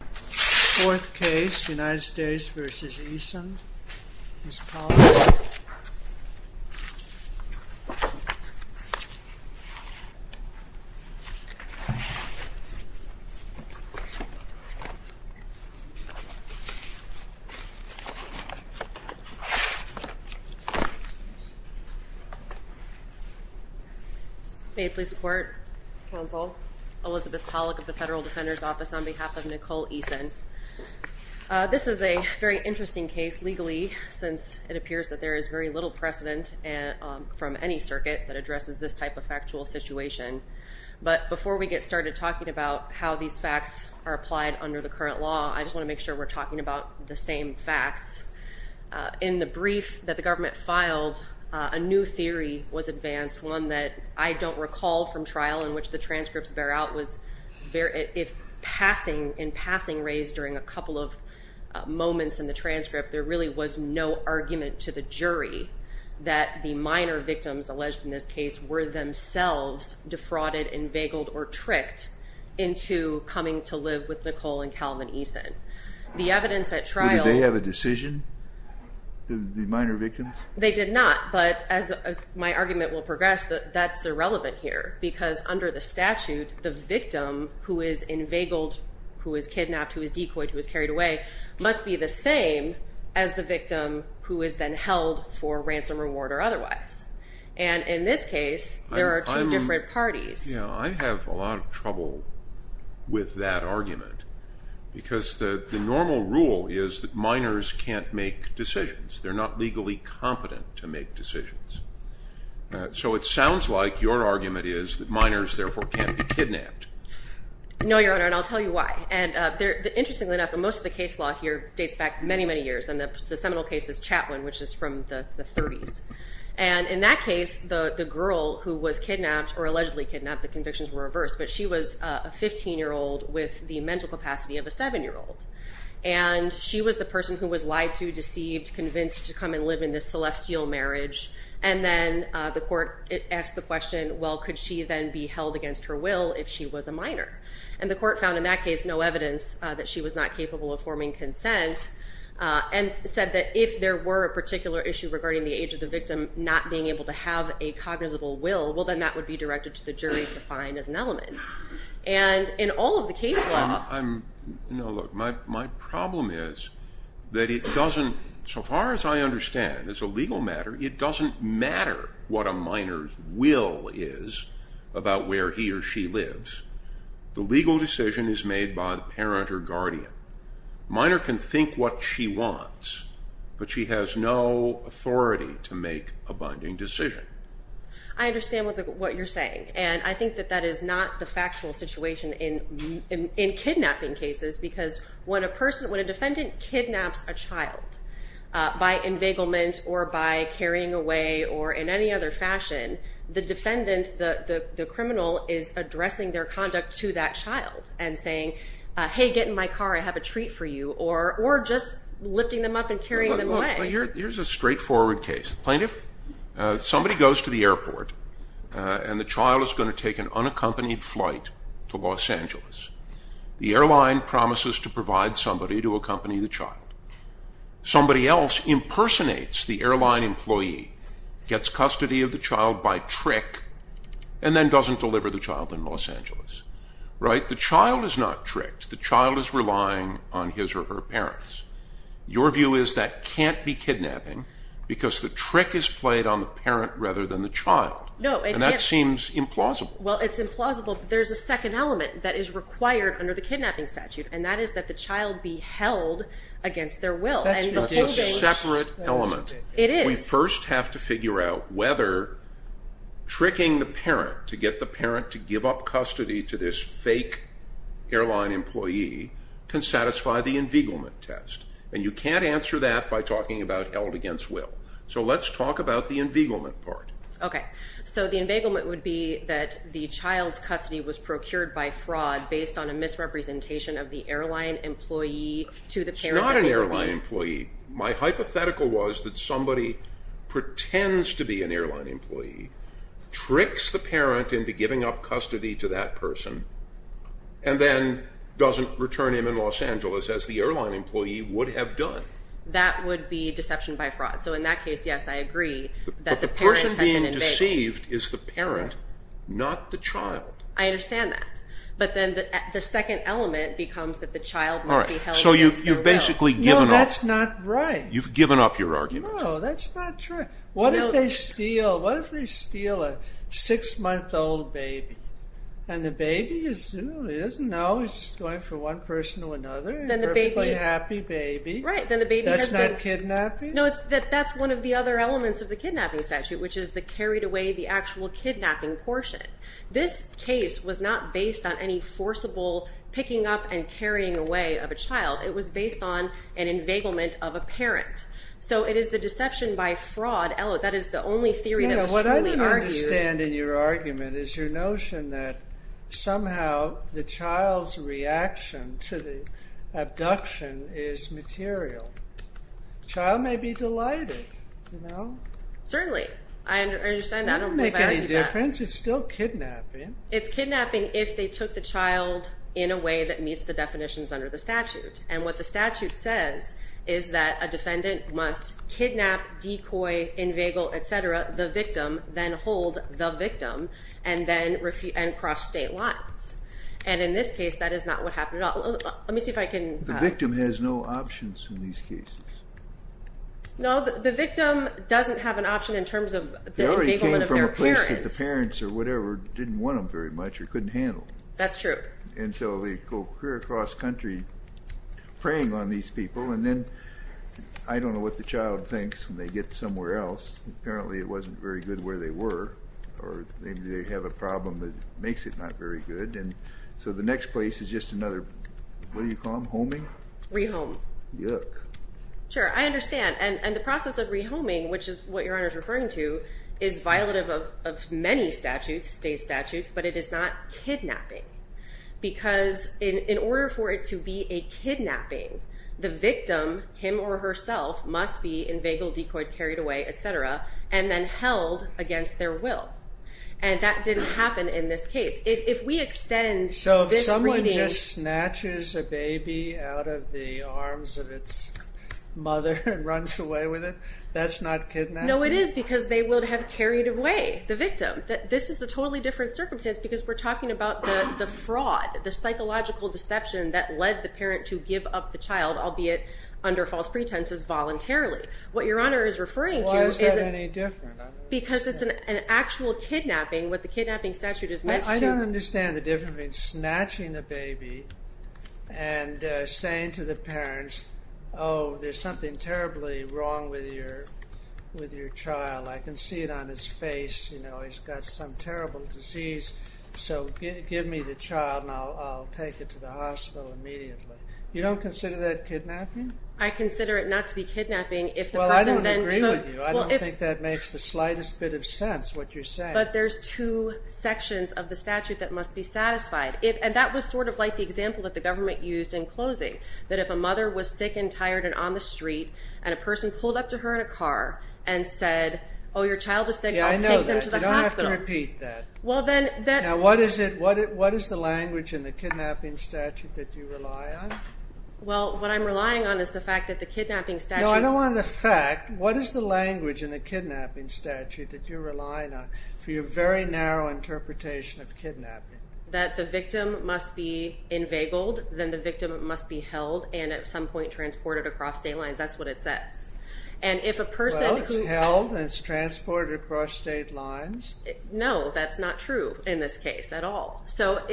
Fourth case, United States v. Eason, Ms. Pollack. May it please the Court, Counsel, Elizabeth Pollack of the Federal Defender's Office on behalf of Nicole Eason. This is a very interesting case legally since it appears that there is very little precedent from any circuit that addresses this type of factual situation. But before we get started talking about how these facts are applied under the current law, I just want to make sure we're talking about the same facts. In the brief that the government filed, a new theory was advanced. One that I don't recall from trial in which the transcripts bear out was if in passing raised during a couple of moments in the transcript, there really was no argument to the jury that the minor victims alleged in this case were themselves defrauded and veiled or tricked into coming to live with Nicole and Calvin Eason. The evidence at trial... Did they have a decision, the minor victims? They did not, but as my argument will progress, that's irrelevant here. Because under the statute, the victim who is inveigled, who is kidnapped, who is decoyed, who is carried away, must be the same as the victim who is then held for ransom reward or otherwise. And in this case, there are two different parties. Yeah, I have a lot of trouble with that argument. Because the normal rule is that minors can't make decisions. They're not legally competent to make decisions. So it sounds like your argument is that minors, therefore, can't be kidnapped. No, Your Honor, and I'll tell you why. Interestingly enough, most of the case law here dates back many, many years, and the seminal case is Chatwin, which is from the 30s. And in that case, the girl who was kidnapped or allegedly kidnapped, the convictions were reversed, but she was a 15-year-old with the mental capacity of a 7-year-old. And she was the person who was lied to, deceived, convinced to come and live in this celestial marriage. And then the court asked the question, well, could she then be held against her will if she was a minor? And the court found in that case no evidence that she was not capable of forming consent and said that if there were a particular issue regarding the age of the victim not being able to have a cognizable will, well, then that would be directed to the jury to find as an element. And in all of the case law... No, look, my problem is that it doesn't, so far as I understand, as a legal matter, it doesn't matter what a minor's will is about where he or she lives. The legal decision is made by the parent or guardian. A minor can think what she wants, but she has no authority to make a binding decision. I understand what you're saying. And I think that that is not the factual situation in kidnapping cases because when a person, when a defendant kidnaps a child by enveiglement or by carrying away or in any other fashion, the defendant, the criminal, is addressing their conduct to that child and saying, hey, get in my car, I have a treat for you, or just lifting them up and carrying them away. Here's a straightforward case. Plaintiff, somebody goes to the airport and the child is going to take an unaccompanied flight to Los Angeles. The airline promises to provide somebody to accompany the child. Somebody else impersonates the airline employee, gets custody of the child by trick, and then doesn't deliver the child in Los Angeles. Right? The child is not tricked. The child is relying on his or her parents. Your view is that can't be kidnapping because the trick is played on the parent rather than the child. No. And that seems implausible. Well, it's implausible, but there's a second element that is required under the kidnapping statute, and that is that the child be held against their will. That's a separate element. It is. We first have to figure out whether tricking the parent to get the parent to give up custody to this fake airline employee can satisfy the enveiglement test. And you can't answer that by talking about held against will. So let's talk about the enveiglement part. Okay. So the enveiglement would be that the child's custody was procured by fraud based on a misrepresentation of the airline employee to the parent. It's not an airline employee. My hypothetical was that somebody pretends to be an airline employee, tricks the parent into giving up custody to that person, and then doesn't return him in Los Angeles as the airline employee would have done. That would be deception by fraud. So in that case, yes, I agree that the parent has been enveigled. But the person being deceived is the parent, not the child. I understand that. But then the second element becomes that the child must be held against their will. All right. So you've basically given up. No, that's not right. You've given up your argument. No, that's not true. What if they steal a six-month-old baby, and the baby is just going from one person to another, a perfectly happy baby? Right. That's not kidnapping? No, that's one of the other elements of the kidnapping statute, which is the carried away, the actual kidnapping portion. This case was not based on any forcible picking up and carrying away of a child. It was based on an enveiglement of a parent. So it is the deception by fraud. That is the only theory that was fully argued. What I don't understand in your argument is your notion that somehow the child's reaction to the abduction is material. The child may be delighted. Certainly. I understand that. I don't go back to that. In your defense, it's still kidnapping. It's kidnapping if they took the child in a way that meets the definitions under the statute. And what the statute says is that a defendant must kidnap, decoy, enveigle, et cetera, the victim, then hold the victim, and then cross state lines. And in this case, that is not what happened at all. Let me see if I can— The victim has no options in these cases. No, the victim doesn't have an option in terms of the enveiglement of their parents. They already came from a place that the parents or whatever didn't want them very much or couldn't handle. That's true. And so they go clear across country preying on these people, and then I don't know what the child thinks when they get somewhere else. Apparently it wasn't very good where they were, or maybe they have a problem that makes it not very good. And so the next place is just another—what do you call them, homing? Rehome. Yuck. Sure, I understand. And the process of rehoming, which is what Your Honor is referring to, is violative of many statutes, state statutes, but it is not kidnapping. Because in order for it to be a kidnapping, the victim, him or herself, must be enveigled, decoyed, carried away, et cetera, and then held against their will. And that didn't happen in this case. If we extend this reading— That's not kidnapping? No, it is because they would have carried away the victim. This is a totally different circumstance because we're talking about the fraud, the psychological deception that led the parent to give up the child, albeit under false pretenses, voluntarily. What Your Honor is referring to is— Why is that any different? Because it's an actual kidnapping. What the kidnapping statute is meant to— and saying to the parents, oh, there's something terribly wrong with your child. I can see it on his face. You know, he's got some terrible disease, so give me the child and I'll take it to the hospital immediately. You don't consider that kidnapping? I consider it not to be kidnapping if the person then took— Well, I don't agree with you. I don't think that makes the slightest bit of sense, what you're saying. But there's two sections of the statute that must be satisfied. And that was sort of like the example that the government used in closing, that if a mother was sick and tired and on the street and a person pulled up to her in a car and said, oh, your child was sick, I'll take them to the hospital. Yeah, I know that. You don't have to repeat that. Well, then— Now, what is it—what is the language in the kidnapping statute that you rely on? Well, what I'm relying on is the fact that the kidnapping statute— No, I don't want the fact. What is the language in the kidnapping statute that you're relying on for your very narrow interpretation of kidnapping? That the victim must be inveigled, then the victim must be held and at some point transported across state lines. That's what it says. And if a person— Well, it's held and it's transported across state lines. No, that's not true in this case at all. So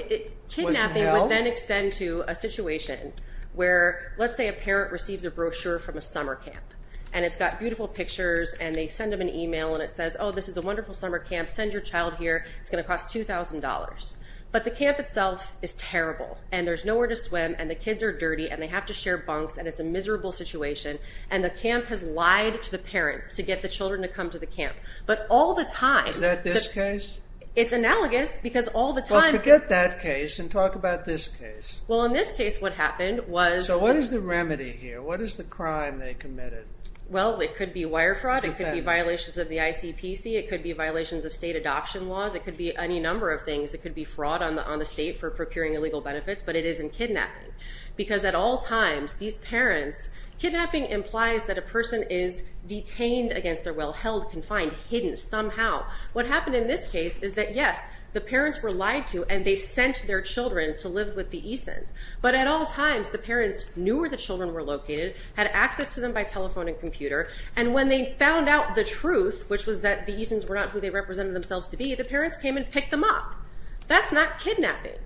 kidnapping would then extend to a situation where, let's say, a parent receives a brochure from a summer camp. And it's got beautiful pictures and they send them an email and it says, oh, this is a wonderful summer camp, send your child here, it's going to cost $2,000. But the camp itself is terrible and there's nowhere to swim and the kids are dirty and they have to share bunks and it's a miserable situation. And the camp has lied to the parents to get the children to come to the camp. But all the time— Is that this case? It's analogous because all the time— Well, forget that case and talk about this case. Well, in this case what happened was— So what is the remedy here? What is the crime they committed? Well, it could be wire fraud. It could be violations of the ICPC. It could be violations of state adoption laws. It could be any number of things. It could be fraud on the state for procuring illegal benefits. But it is in kidnapping because at all times these parents— Kidnapping implies that a person is detained against their will, held confined, hidden somehow. What happened in this case is that, yes, the parents were lied to and they sent their children to live with the Easons. But at all times the parents knew where the children were located, had access to them by telephone and computer, and when they found out the truth, which was that the Easons were not who they represented themselves to be, the parents came and picked them up. That's not kidnapping.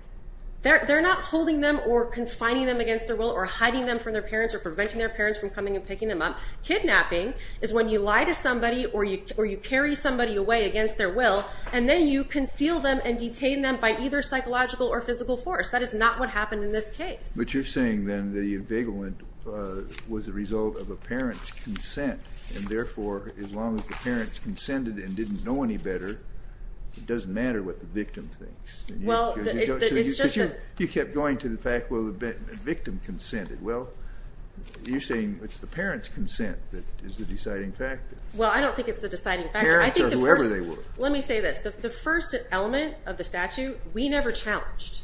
They're not holding them or confining them against their will or hiding them from their parents or preventing their parents from coming and picking them up. Kidnapping is when you lie to somebody or you carry somebody away against their will and then you conceal them and detain them by either psychological or physical force. That is not what happened in this case. But you're saying then the evagelment was a result of a parent's consent, and therefore as long as the parents consented and didn't know any better, it doesn't matter what the victim thinks. Well, it's just that— You kept going to the fact, well, the victim consented. Well, you're saying it's the parent's consent that is the deciding factor. Well, I don't think it's the deciding factor. Parents or whoever they were. Let me say this. The first element of the statute, we never challenged.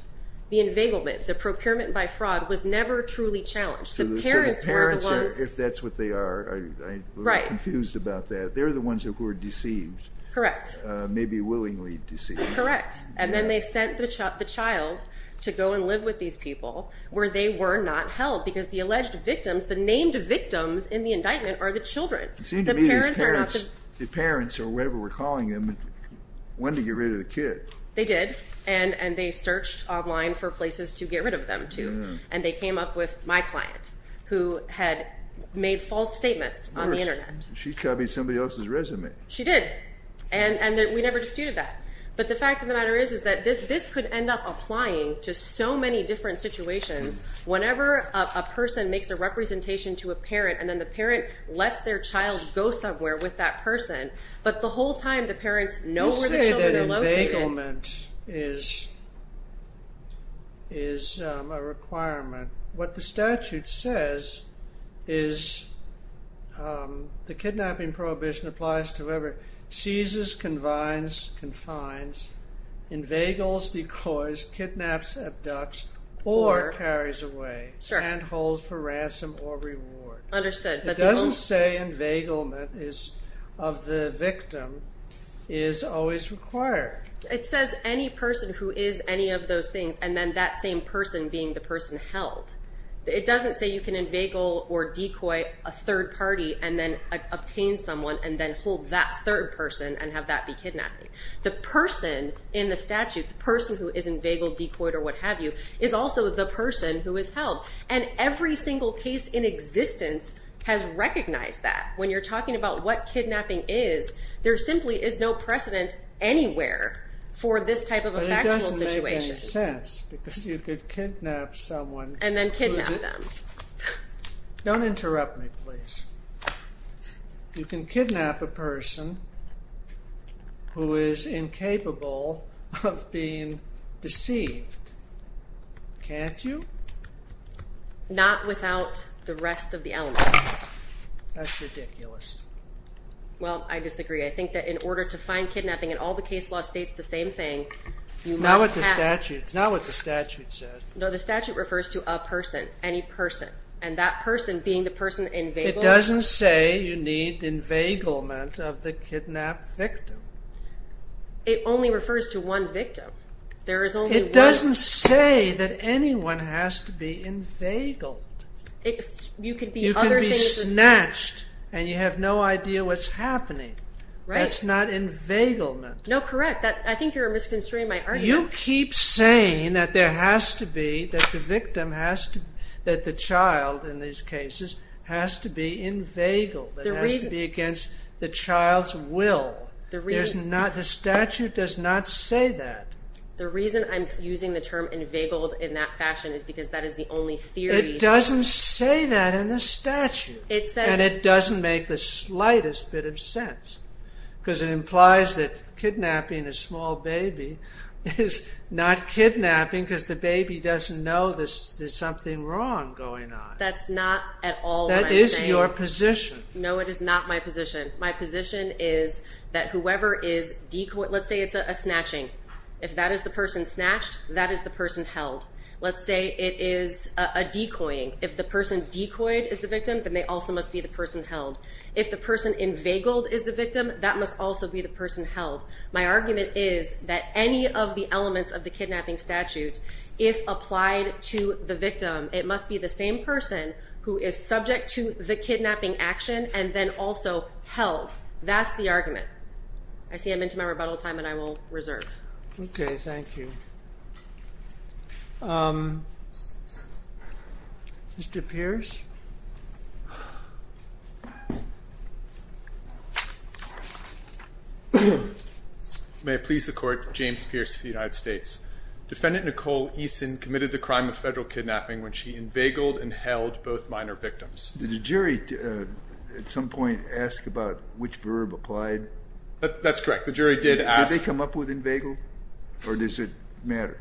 The evagelment, the procurement by fraud was never truly challenged. The parents were the ones— So the parents, if that's what they are, I'm confused about that. They're the ones who were deceived. Correct. Maybe willingly deceived. Correct. And then they sent the child to go and live with these people where they were not held because the alleged victims, the named victims in the indictment are the children. The parents or whatever we're calling them wanted to get rid of the kid. They did, and they searched online for places to get rid of them to, and they came up with my client who had made false statements on the Internet. She copied somebody else's resume. She did, and we never disputed that. But the fact of the matter is that this could end up applying to so many different situations. Whenever a person makes a representation to a parent and then the parent lets their child go somewhere with that person, but the whole time the parents know where the children are located— You say that evagelment is a requirement. What the statute says is the kidnapping prohibition applies to whoever seizes, confines, evagels, decoys, kidnaps, abducts, or carries away, and holds for ransom or reward. Understood. It doesn't say evagelment of the victim is always required. It says any person who is any of those things and then that same person being the person held. It doesn't say you can evagel or decoy a third party and then obtain someone and then hold that third person and have that be kidnapped. The person in the statute, the person who is evageled, decoyed, or what have you, is also the person who is held. And every single case in existence has recognized that. When you're talking about what kidnapping is, there simply is no precedent anywhere for this type of a factual situation. But it doesn't make any sense because you could kidnap someone— And then kidnap them. Don't interrupt me, please. You can kidnap a person who is incapable of being deceived, can't you? Not without the rest of the elements. That's ridiculous. Well, I disagree. I think that in order to find kidnapping in all the case law states the same thing, you must have— Not what the statute said. No, the statute refers to a person, any person. And that person being the person evageled. It doesn't say you need evagelment of the kidnapped victim. It only refers to one victim. It doesn't say that anyone has to be evageled. You can be snatched and you have no idea what's happening. That's not evagelment. No, correct. I think you're misconstruing my argument. But you keep saying that there has to be, that the victim has to, that the child in these cases has to be evageled. It has to be against the child's will. The statute does not say that. The reason I'm using the term evageled in that fashion is because that is the only theory. It doesn't say that in the statute. And it doesn't make the slightest bit of sense. Because it implies that kidnapping a small baby is not kidnapping because the baby doesn't know there's something wrong going on. That's not at all what I'm saying. That is your position. No, it is not my position. My position is that whoever is—let's say it's a snatching. If that is the person snatched, that is the person held. Let's say it is a decoying. If the person decoyed is the victim, then they also must be the person held. If the person evageled is the victim, that must also be the person held. My argument is that any of the elements of the kidnapping statute, if applied to the victim, it must be the same person who is subject to the kidnapping action and then also held. That's the argument. I see I'm into my rebuttal time, and I will reserve. Okay, thank you. Mr. Pierce? May it please the Court, James Pierce of the United States. Defendant Nicole Eason committed the crime of federal kidnapping when she evageled and held both minor victims. Did the jury at some point ask about which verb applied? That's correct. Did they come up with evagel or does it matter?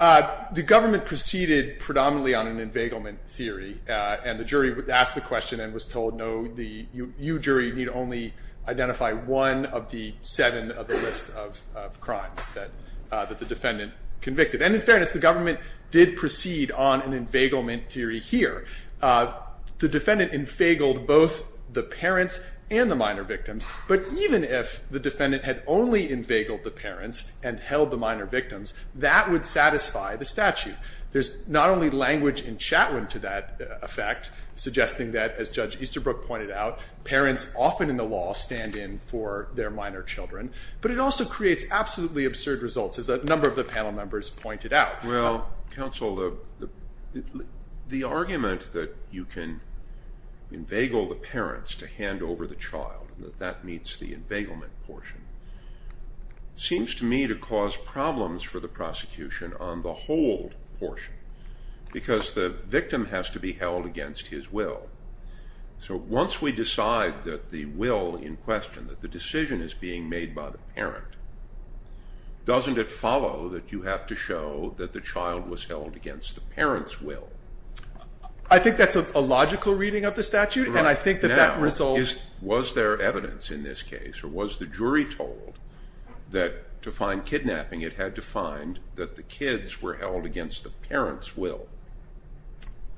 The government proceeded predominantly on an evagelment theory, and the jury asked the question and was told, no, you, jury, need only identify one of the seven of the list of crimes that the defendant convicted. And in fairness, the government did proceed on an evagelment theory here. The defendant evageled both the parents and the minor victims, but even if the defendant had only evageled the parents and held the minor victims, that would satisfy the statute. There's not only language in Chatwin to that effect, suggesting that, as Judge Easterbrook pointed out, parents often in the law stand in for their minor children, but it also creates absolutely absurd results, as a number of the panel members pointed out. Well, counsel, the argument that you can evagel the parents to hand over the child and that that meets the evagelment portion seems to me to cause problems for the prosecution on the hold portion, because the victim has to be held against his will. So once we decide that the will in question, that the decision is being made by the parent, doesn't it follow that you have to show that the child was held against the parent's will? I think that's a logical reading of the statute, and I think that that results... Now, was there evidence in this case, or was the jury told, that to find kidnapping it had to find that the kids were held against the parent's will?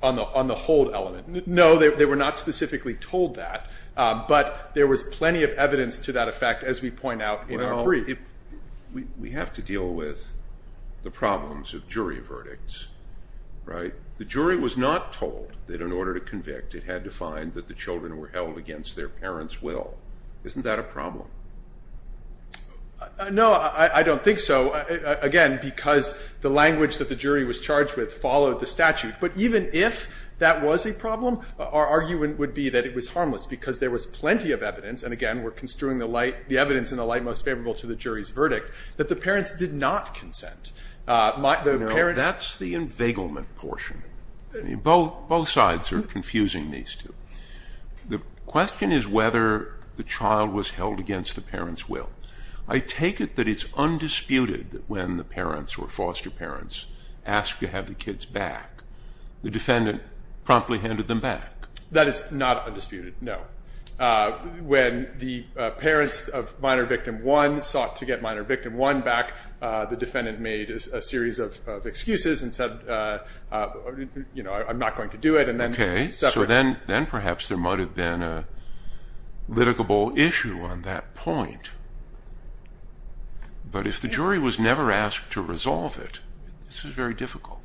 On the hold element. No, they were not specifically told that, but there was plenty of evidence to that effect, as we point out in our brief. Well, we have to deal with the problems of jury verdicts, right? The jury was not told that in order to convict, it had to find that the children were held against their parent's will. Isn't that a problem? No, I don't think so. Again, because the language that the jury was charged with followed the statute. But even if that was a problem, our argument would be that it was harmless, because there was plenty of evidence, and again, we're construing the evidence in the light most favorable to the jury's verdict, that the parents did not consent. No, that's the inveiglement portion. Both sides are confusing these two. The question is whether the trial was held against the parent's will. I take it that it's undisputed that when the parents or foster parents asked to have the kids back, the defendant promptly handed them back. That is not undisputed, no. When the parents of minor victim one sought to get minor victim one back, the defendant made a series of excuses and said, I'm not going to do it. Okay, so then perhaps there might have been a litigable issue on that point. But if the jury was never asked to resolve it, this is very difficult.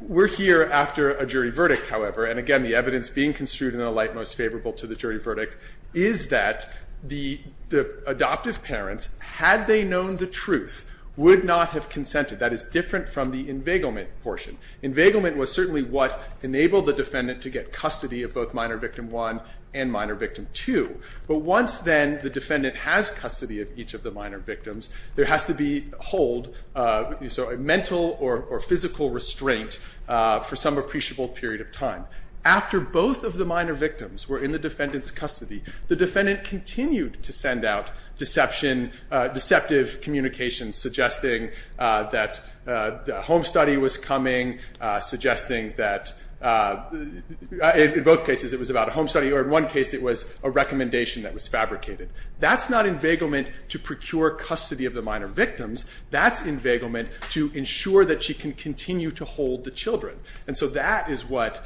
We're here after a jury verdict, however, and again, the evidence being construed in the light most favorable to the jury's verdict is that the adoptive parents, had they known the truth, would not have consented. That is different from the inveiglement portion. Inveiglement was certainly what enabled the defendant to get custody of both minor victim one and minor victim two. But once then the defendant has custody of each of the minor victims, there has to be hold, mental or physical restraint for some appreciable period of time. After both of the minor victims were in the defendant's custody, the defendant continued to send out deceptive communications suggesting that a home study was coming, suggesting that in both cases it was about a home study, or in one case it was a recommendation that was fabricated. That's not inveiglement to procure custody of the minor victims. That's inveiglement to ensure that she can continue to hold the children. And so that is what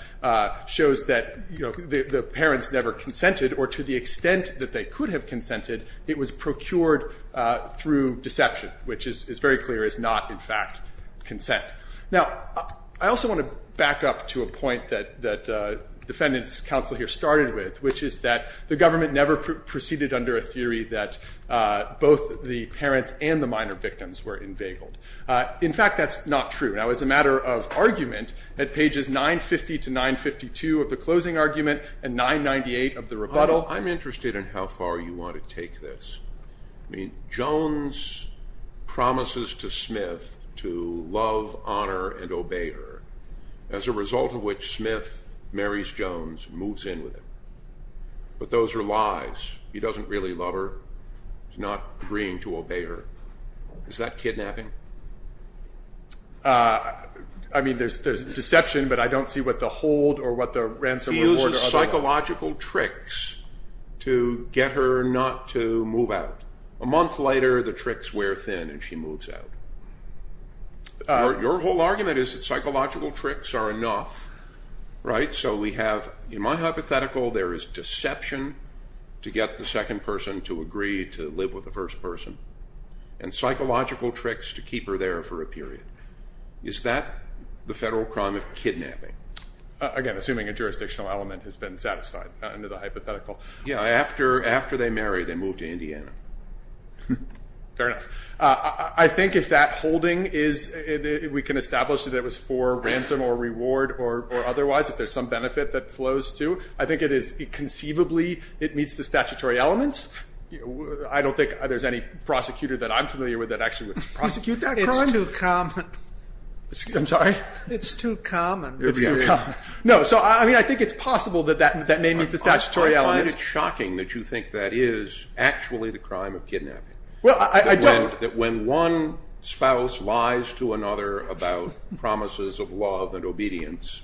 shows that the parents never consented or to the extent that they could have consented, it was procured through deception, which is very clear is not, in fact, consent. Now, I also want to back up to a point that the defendant's counsel here started with, which is that the government never proceeded under a theory that both the parents and the minor victims were inveigled. In fact, that's not true. Now, as a matter of argument, at pages 950 to 952 of the closing argument and 998 of the rebuttal. I'm interested in how far you want to take this. I mean, Jones promises to Smith to love, honor, and obey her, as a result of which Smith marries Jones and moves in with him. But those are lies. He doesn't really love her. He's not agreeing to obey her. Is that kidnapping? I mean, there's deception, but I don't see what the hold or what the ransom reward or otherwise. He uses psychological tricks to get her not to move out. A month later, the tricks wear thin and she moves out. Your whole argument is that psychological tricks are enough, right? So we have, in my hypothetical, there is deception to get the second person to agree to live with the first person and psychological tricks to keep her there for a period. Is that the federal crime of kidnapping? Again, assuming a jurisdictional element has been satisfied under the hypothetical. Yeah, after they marry, they move to Indiana. Fair enough. I think if that holding is, we can establish that it was for ransom or reward or otherwise, if there's some benefit that flows to. I think it is conceivably, it meets the statutory elements. I don't think there's any prosecutor that I'm familiar with that actually would prosecute that crime. It's too common. I'm sorry? It's too common. It's too common. No, so I mean, I think it's possible that that may meet the statutory elements. I find it shocking that you think that is actually the crime of kidnapping. Well, I don't. That when one spouse lies to another about promises of love and obedience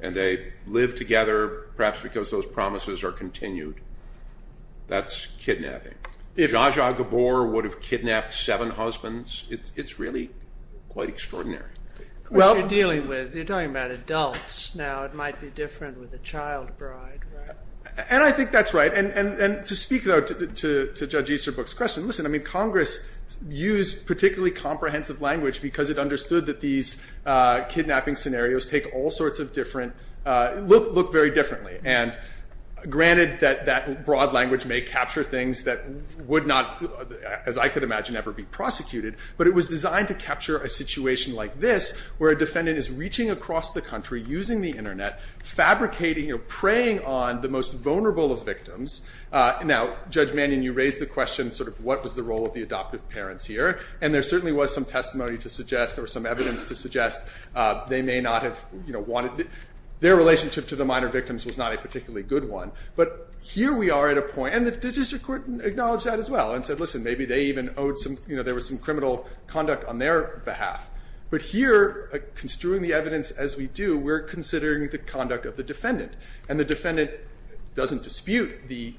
and they live together, perhaps because those promises are continued, that's kidnapping. Zsa Zsa Gabor would have kidnapped seven husbands. It's really quite extraordinary. What you're dealing with, you're talking about adults. Now it might be different with a child bride, right? And I think that's right. And to speak, though, to Judge Easterbrook's question, listen, I mean, Congress used particularly comprehensive language because it understood that these kidnapping scenarios take all sorts of different, look very differently. And granted that that broad language may capture things that would not, as I could imagine, ever be prosecuted, but it was designed to capture a situation like this, where a defendant is reaching across the country, using the Internet, fabricating or preying on the most vulnerable of victims. Now, Judge Mannion, you raised the question, sort of, what was the role of the adoptive parents here? Their relationship to the minor victims was not a particularly good one. But here we are at a point, and the District Court acknowledged that as well, and said, listen, maybe they even owed some, you know, there was some criminal conduct on their behalf. But here, construing the evidence as we do, we're considering the conduct of the defendant. And the defendant doesn't dispute the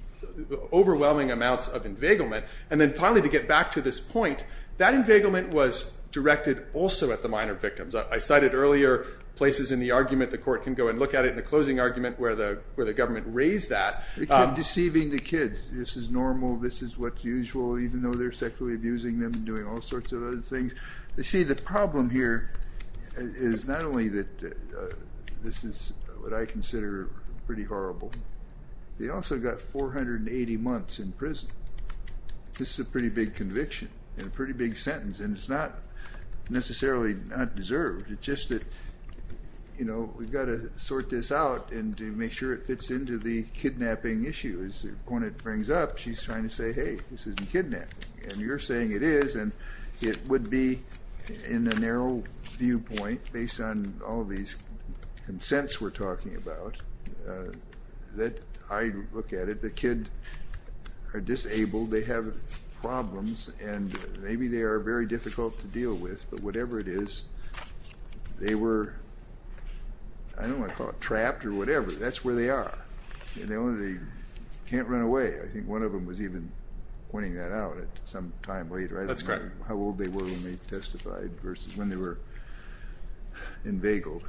overwhelming amounts of inveiglement. And then finally, to get back to this point, that inveiglement was directed also at the minor victims. I cited earlier places in the argument. The court can go and look at it in the closing argument where the government raised that. It's deceiving the kids. This is normal. This is what's usual, even though they're sexually abusing them and doing all sorts of other things. You see, the problem here is not only that this is what I consider pretty horrible. They also got 480 months in prison. This is a pretty big conviction and a pretty big sentence. And it's not necessarily not deserved. It's just that, you know, we've got to sort this out and make sure it fits into the kidnapping issues. When it brings up, she's trying to say, hey, this isn't kidnapping. And you're saying it is, and it would be in a narrow viewpoint, based on all these consents we're talking about, that I look at it, the kids are disabled, they have problems, and maybe they are very difficult to deal with. But whatever it is, they were, I don't want to call it trapped or whatever. That's where they are. They can't run away. I think one of them was even pointing that out at some time later. I don't know how old they were when they testified versus when they were in Vagal.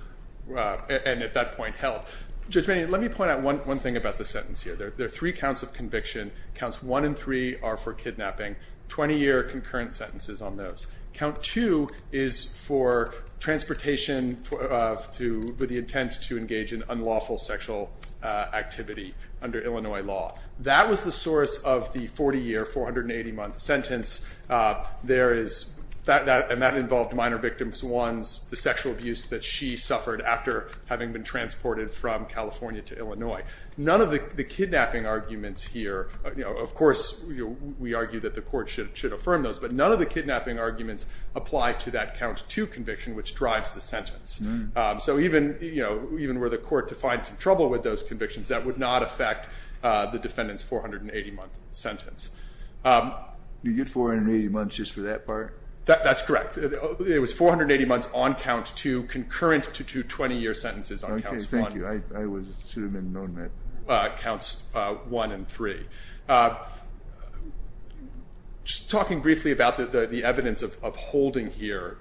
And at that point held. Judge Maney, let me point out one thing about the sentence here. There are three counts of conviction. Counts 1 and 3 are for kidnapping. Twenty-year concurrent sentences on those. Count 2 is for transportation with the intent to engage in unlawful sexual activity under Illinois law. That was the source of the 40-year, 480-month sentence. There is, and that involved minor victims, ones, the sexual abuse that she suffered after having been transported from California to Illinois. None of the kidnapping arguments here, of course, we argue that the court should affirm those, but none of the kidnapping arguments apply to that Count 2 conviction, which drives the sentence. So even were the court to find some trouble with those convictions, that would not affect the defendant's 480-month sentence. You get 480 months just for that part? That's correct. It was 480 months on Count 2, concurrent to two 20-year sentences on Count 1. Okay, thank you. I should have known that. Counts 1 and 3. Just talking briefly about the evidence of holding here,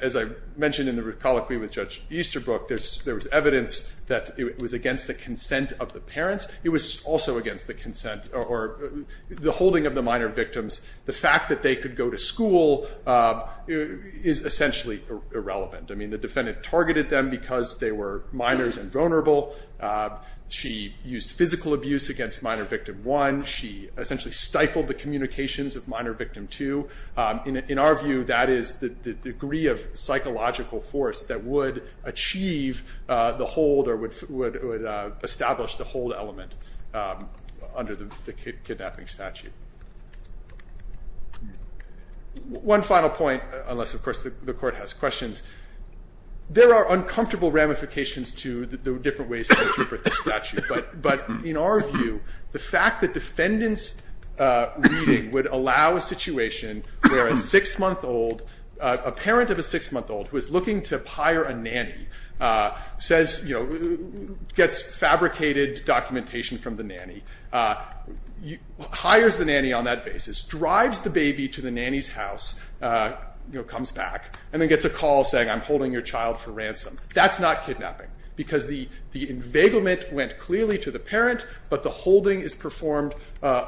as I mentioned in the colloquy with Judge Easterbrook, there was evidence that it was against the consent of the parents. It was also against the consent or the holding of the minor victims. The fact that they could go to school is essentially irrelevant. I mean, the defendant targeted them because they were minors and vulnerable. She used physical abuse against minor victim 1. She essentially stifled the communications of minor victim 2. In our view, that is the degree of psychological force that would achieve the hold or would establish the hold element under the kidnapping statute. One final point, unless, of course, the Court has questions. There are uncomfortable ramifications to the different ways to interpret the statute. But in our view, the fact that defendant's reading would allow a situation where a 6-month-old, a parent of a 6-month-old who is looking to hire a nanny, gets fabricated documentation from the nanny, hires the nanny on that basis, drives the baby to the nanny's house, comes back, and then gets a call saying, I'm holding your child for ransom, that's not kidnapping because the enveiglement went clearly to the parent, but the holding is performed on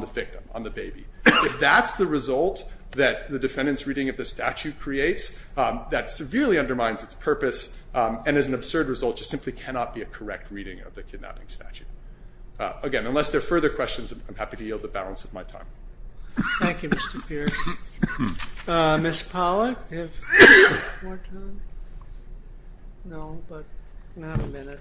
the victim, on the baby. If that's the result that the defendant's reading of the statute creates, that severely undermines its purpose and is an absurd result, just simply cannot be a correct reading of the kidnapping statute. Again, unless there are further questions, I'm happy to yield the balance of my time. Thank you, Mr. Pierce. Ms. Pollack, do you have more time? No, but not a minute.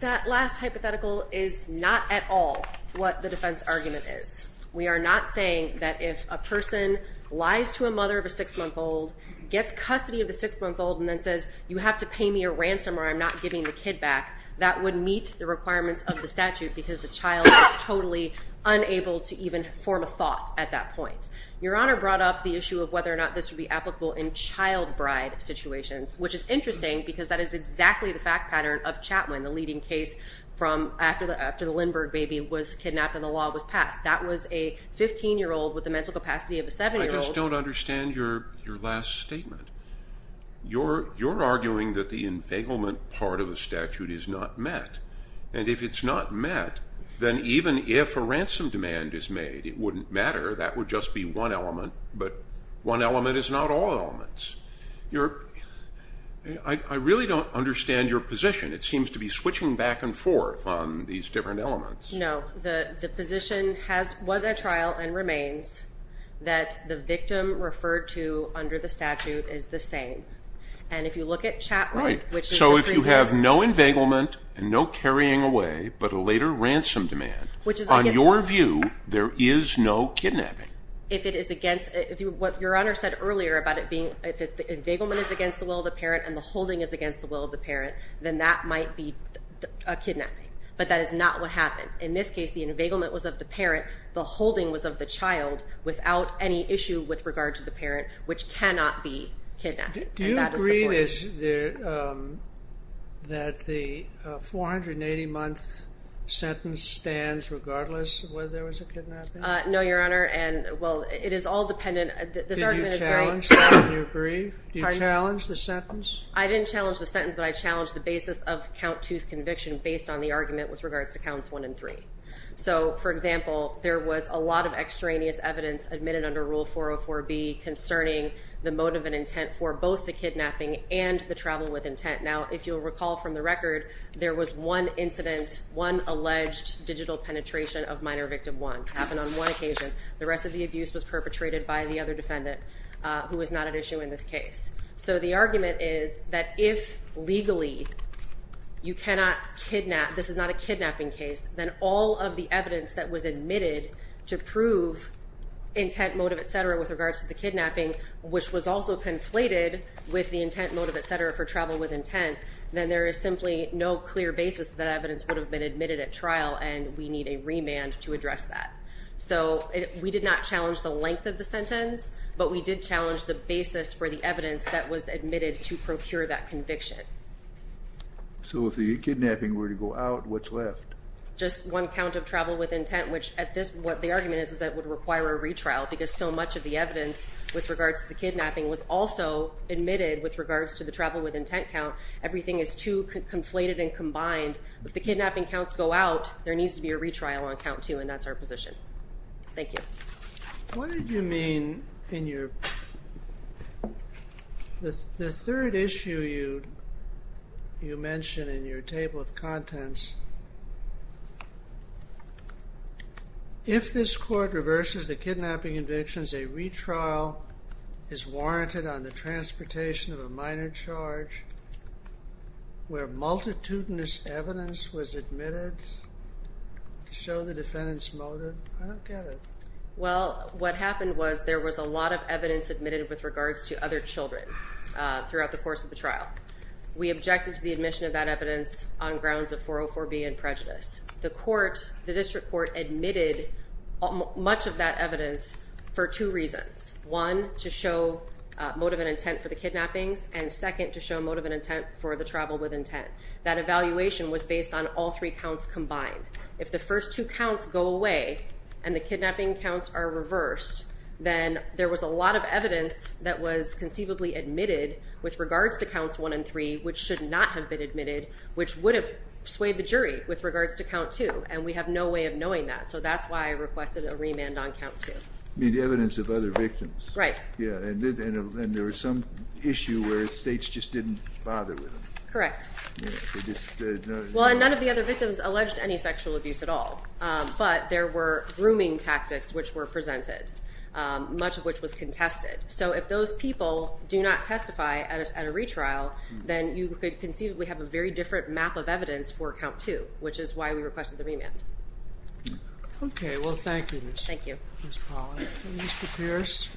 That last hypothetical is not at all what the defense argument is. We are not saying that if a person lies to a mother of a 6-month-old, gets custody of a 6-month-old, and then says, you have to pay me a ransom or I'm not giving the kid back, that would meet the requirements of the statute because the child is totally unable to even form a thought at that point. Your Honor brought up the issue of whether or not this would be applicable in child bride situations, which is interesting because that is exactly the fact pattern of Chatwin, the leading case after the Lindbergh baby was kidnapped and the law was passed. That was a 15-year-old with the mental capacity of a 7-year-old. I just don't understand your last statement. You're arguing that the enveiglement part of the statute is not met, and if it's not met, then even if a ransom demand is made, it wouldn't matter. That would just be one element, but one element is not all elements. I really don't understand your position. It seems to be switching back and forth on these different elements. No, the position was at trial and remains that the victim referred to under the statute is the same, and if you look at Chatwin, which is the three kids. Right, so if you have no enveiglement and no carrying away but a later ransom demand, on your view, there is no kidnapping. If it is against, what Your Honor said earlier about it being, if the enveiglement is against the will of the parent and the holding is against the will of the parent, then that might be a kidnapping, but that is not what happened. In this case, the enveiglement was of the parent. The holding was of the child without any issue with regard to the parent, which cannot be kidnapped, and that is the point. Do you agree that the 480-month sentence stands regardless of whether there was a kidnapping? No, Your Honor, and, well, it is all dependent. Did you challenge that? Do you agree? Do you challenge the sentence? I didn't challenge the sentence, but I challenged the basis of Count 2's conviction based on the argument with regards to Counts 1 and 3. So, for example, there was a lot of extraneous evidence admitted under Rule 404B concerning the motive and intent for both the kidnapping and the travel with intent. Now, if you'll recall from the record, there was one incident, one alleged digital penetration of minor victim 1. It happened on one occasion. The rest of the abuse was perpetrated by the other defendant, who was not at issue in this case. So the argument is that if legally you cannot kidnap, this is not a kidnapping case, then all of the evidence that was admitted to prove intent, motive, etc. with regards to the kidnapping, which was also conflated with the intent, motive, etc. for travel with intent, then there is simply no clear basis that evidence would have been admitted at trial, and we need a remand to address that. So we did not challenge the length of the sentence, but we did challenge the basis for the evidence that was admitted to procure that conviction. So if the kidnapping were to go out, what's left? Just one count of travel with intent, which at this point, the argument is that it would require a retrial because so much of the evidence with regards to the kidnapping was also admitted with regards to the travel with intent count. Everything is too conflated and combined. If the kidnapping counts go out, there needs to be a retrial on Count 2, and that's our position. Thank you. What did you mean in your... The third issue you mentioned in your table of contents, if this court reverses the kidnapping convictions, a retrial is warranted on the transportation of a minor charge where multitudinous evidence was admitted to show the defendant's motive. I don't get it. Well, what happened was there was a lot of evidence admitted with regards to other children throughout the course of the trial. We objected to the admission of that evidence on grounds of 404B and prejudice. The district court admitted much of that evidence for two reasons. One, to show motive and intent for the kidnappings, and second, to show motive and intent for the travel with intent. That evaluation was based on all three counts combined. If the first two counts go away and the kidnapping counts are reversed, then there was a lot of evidence that was conceivably admitted with regards to Counts 1 and 3 which should not have been admitted, which would have swayed the jury with regards to Count 2, and we have no way of knowing that. So that's why I requested a remand on Count 2. You mean the evidence of other victims. Right. Yeah, and there was some issue where states just didn't bother with them. Correct. Well, and none of the other victims alleged any sexual abuse at all, but there were grooming tactics which were presented, much of which was contested. So if those people do not testify at a retrial, then you could conceivably have a very different map of evidence for Count 2, which is why we requested the remand. Okay, well, thank you, Ms. Pollack and Mr. Pierce.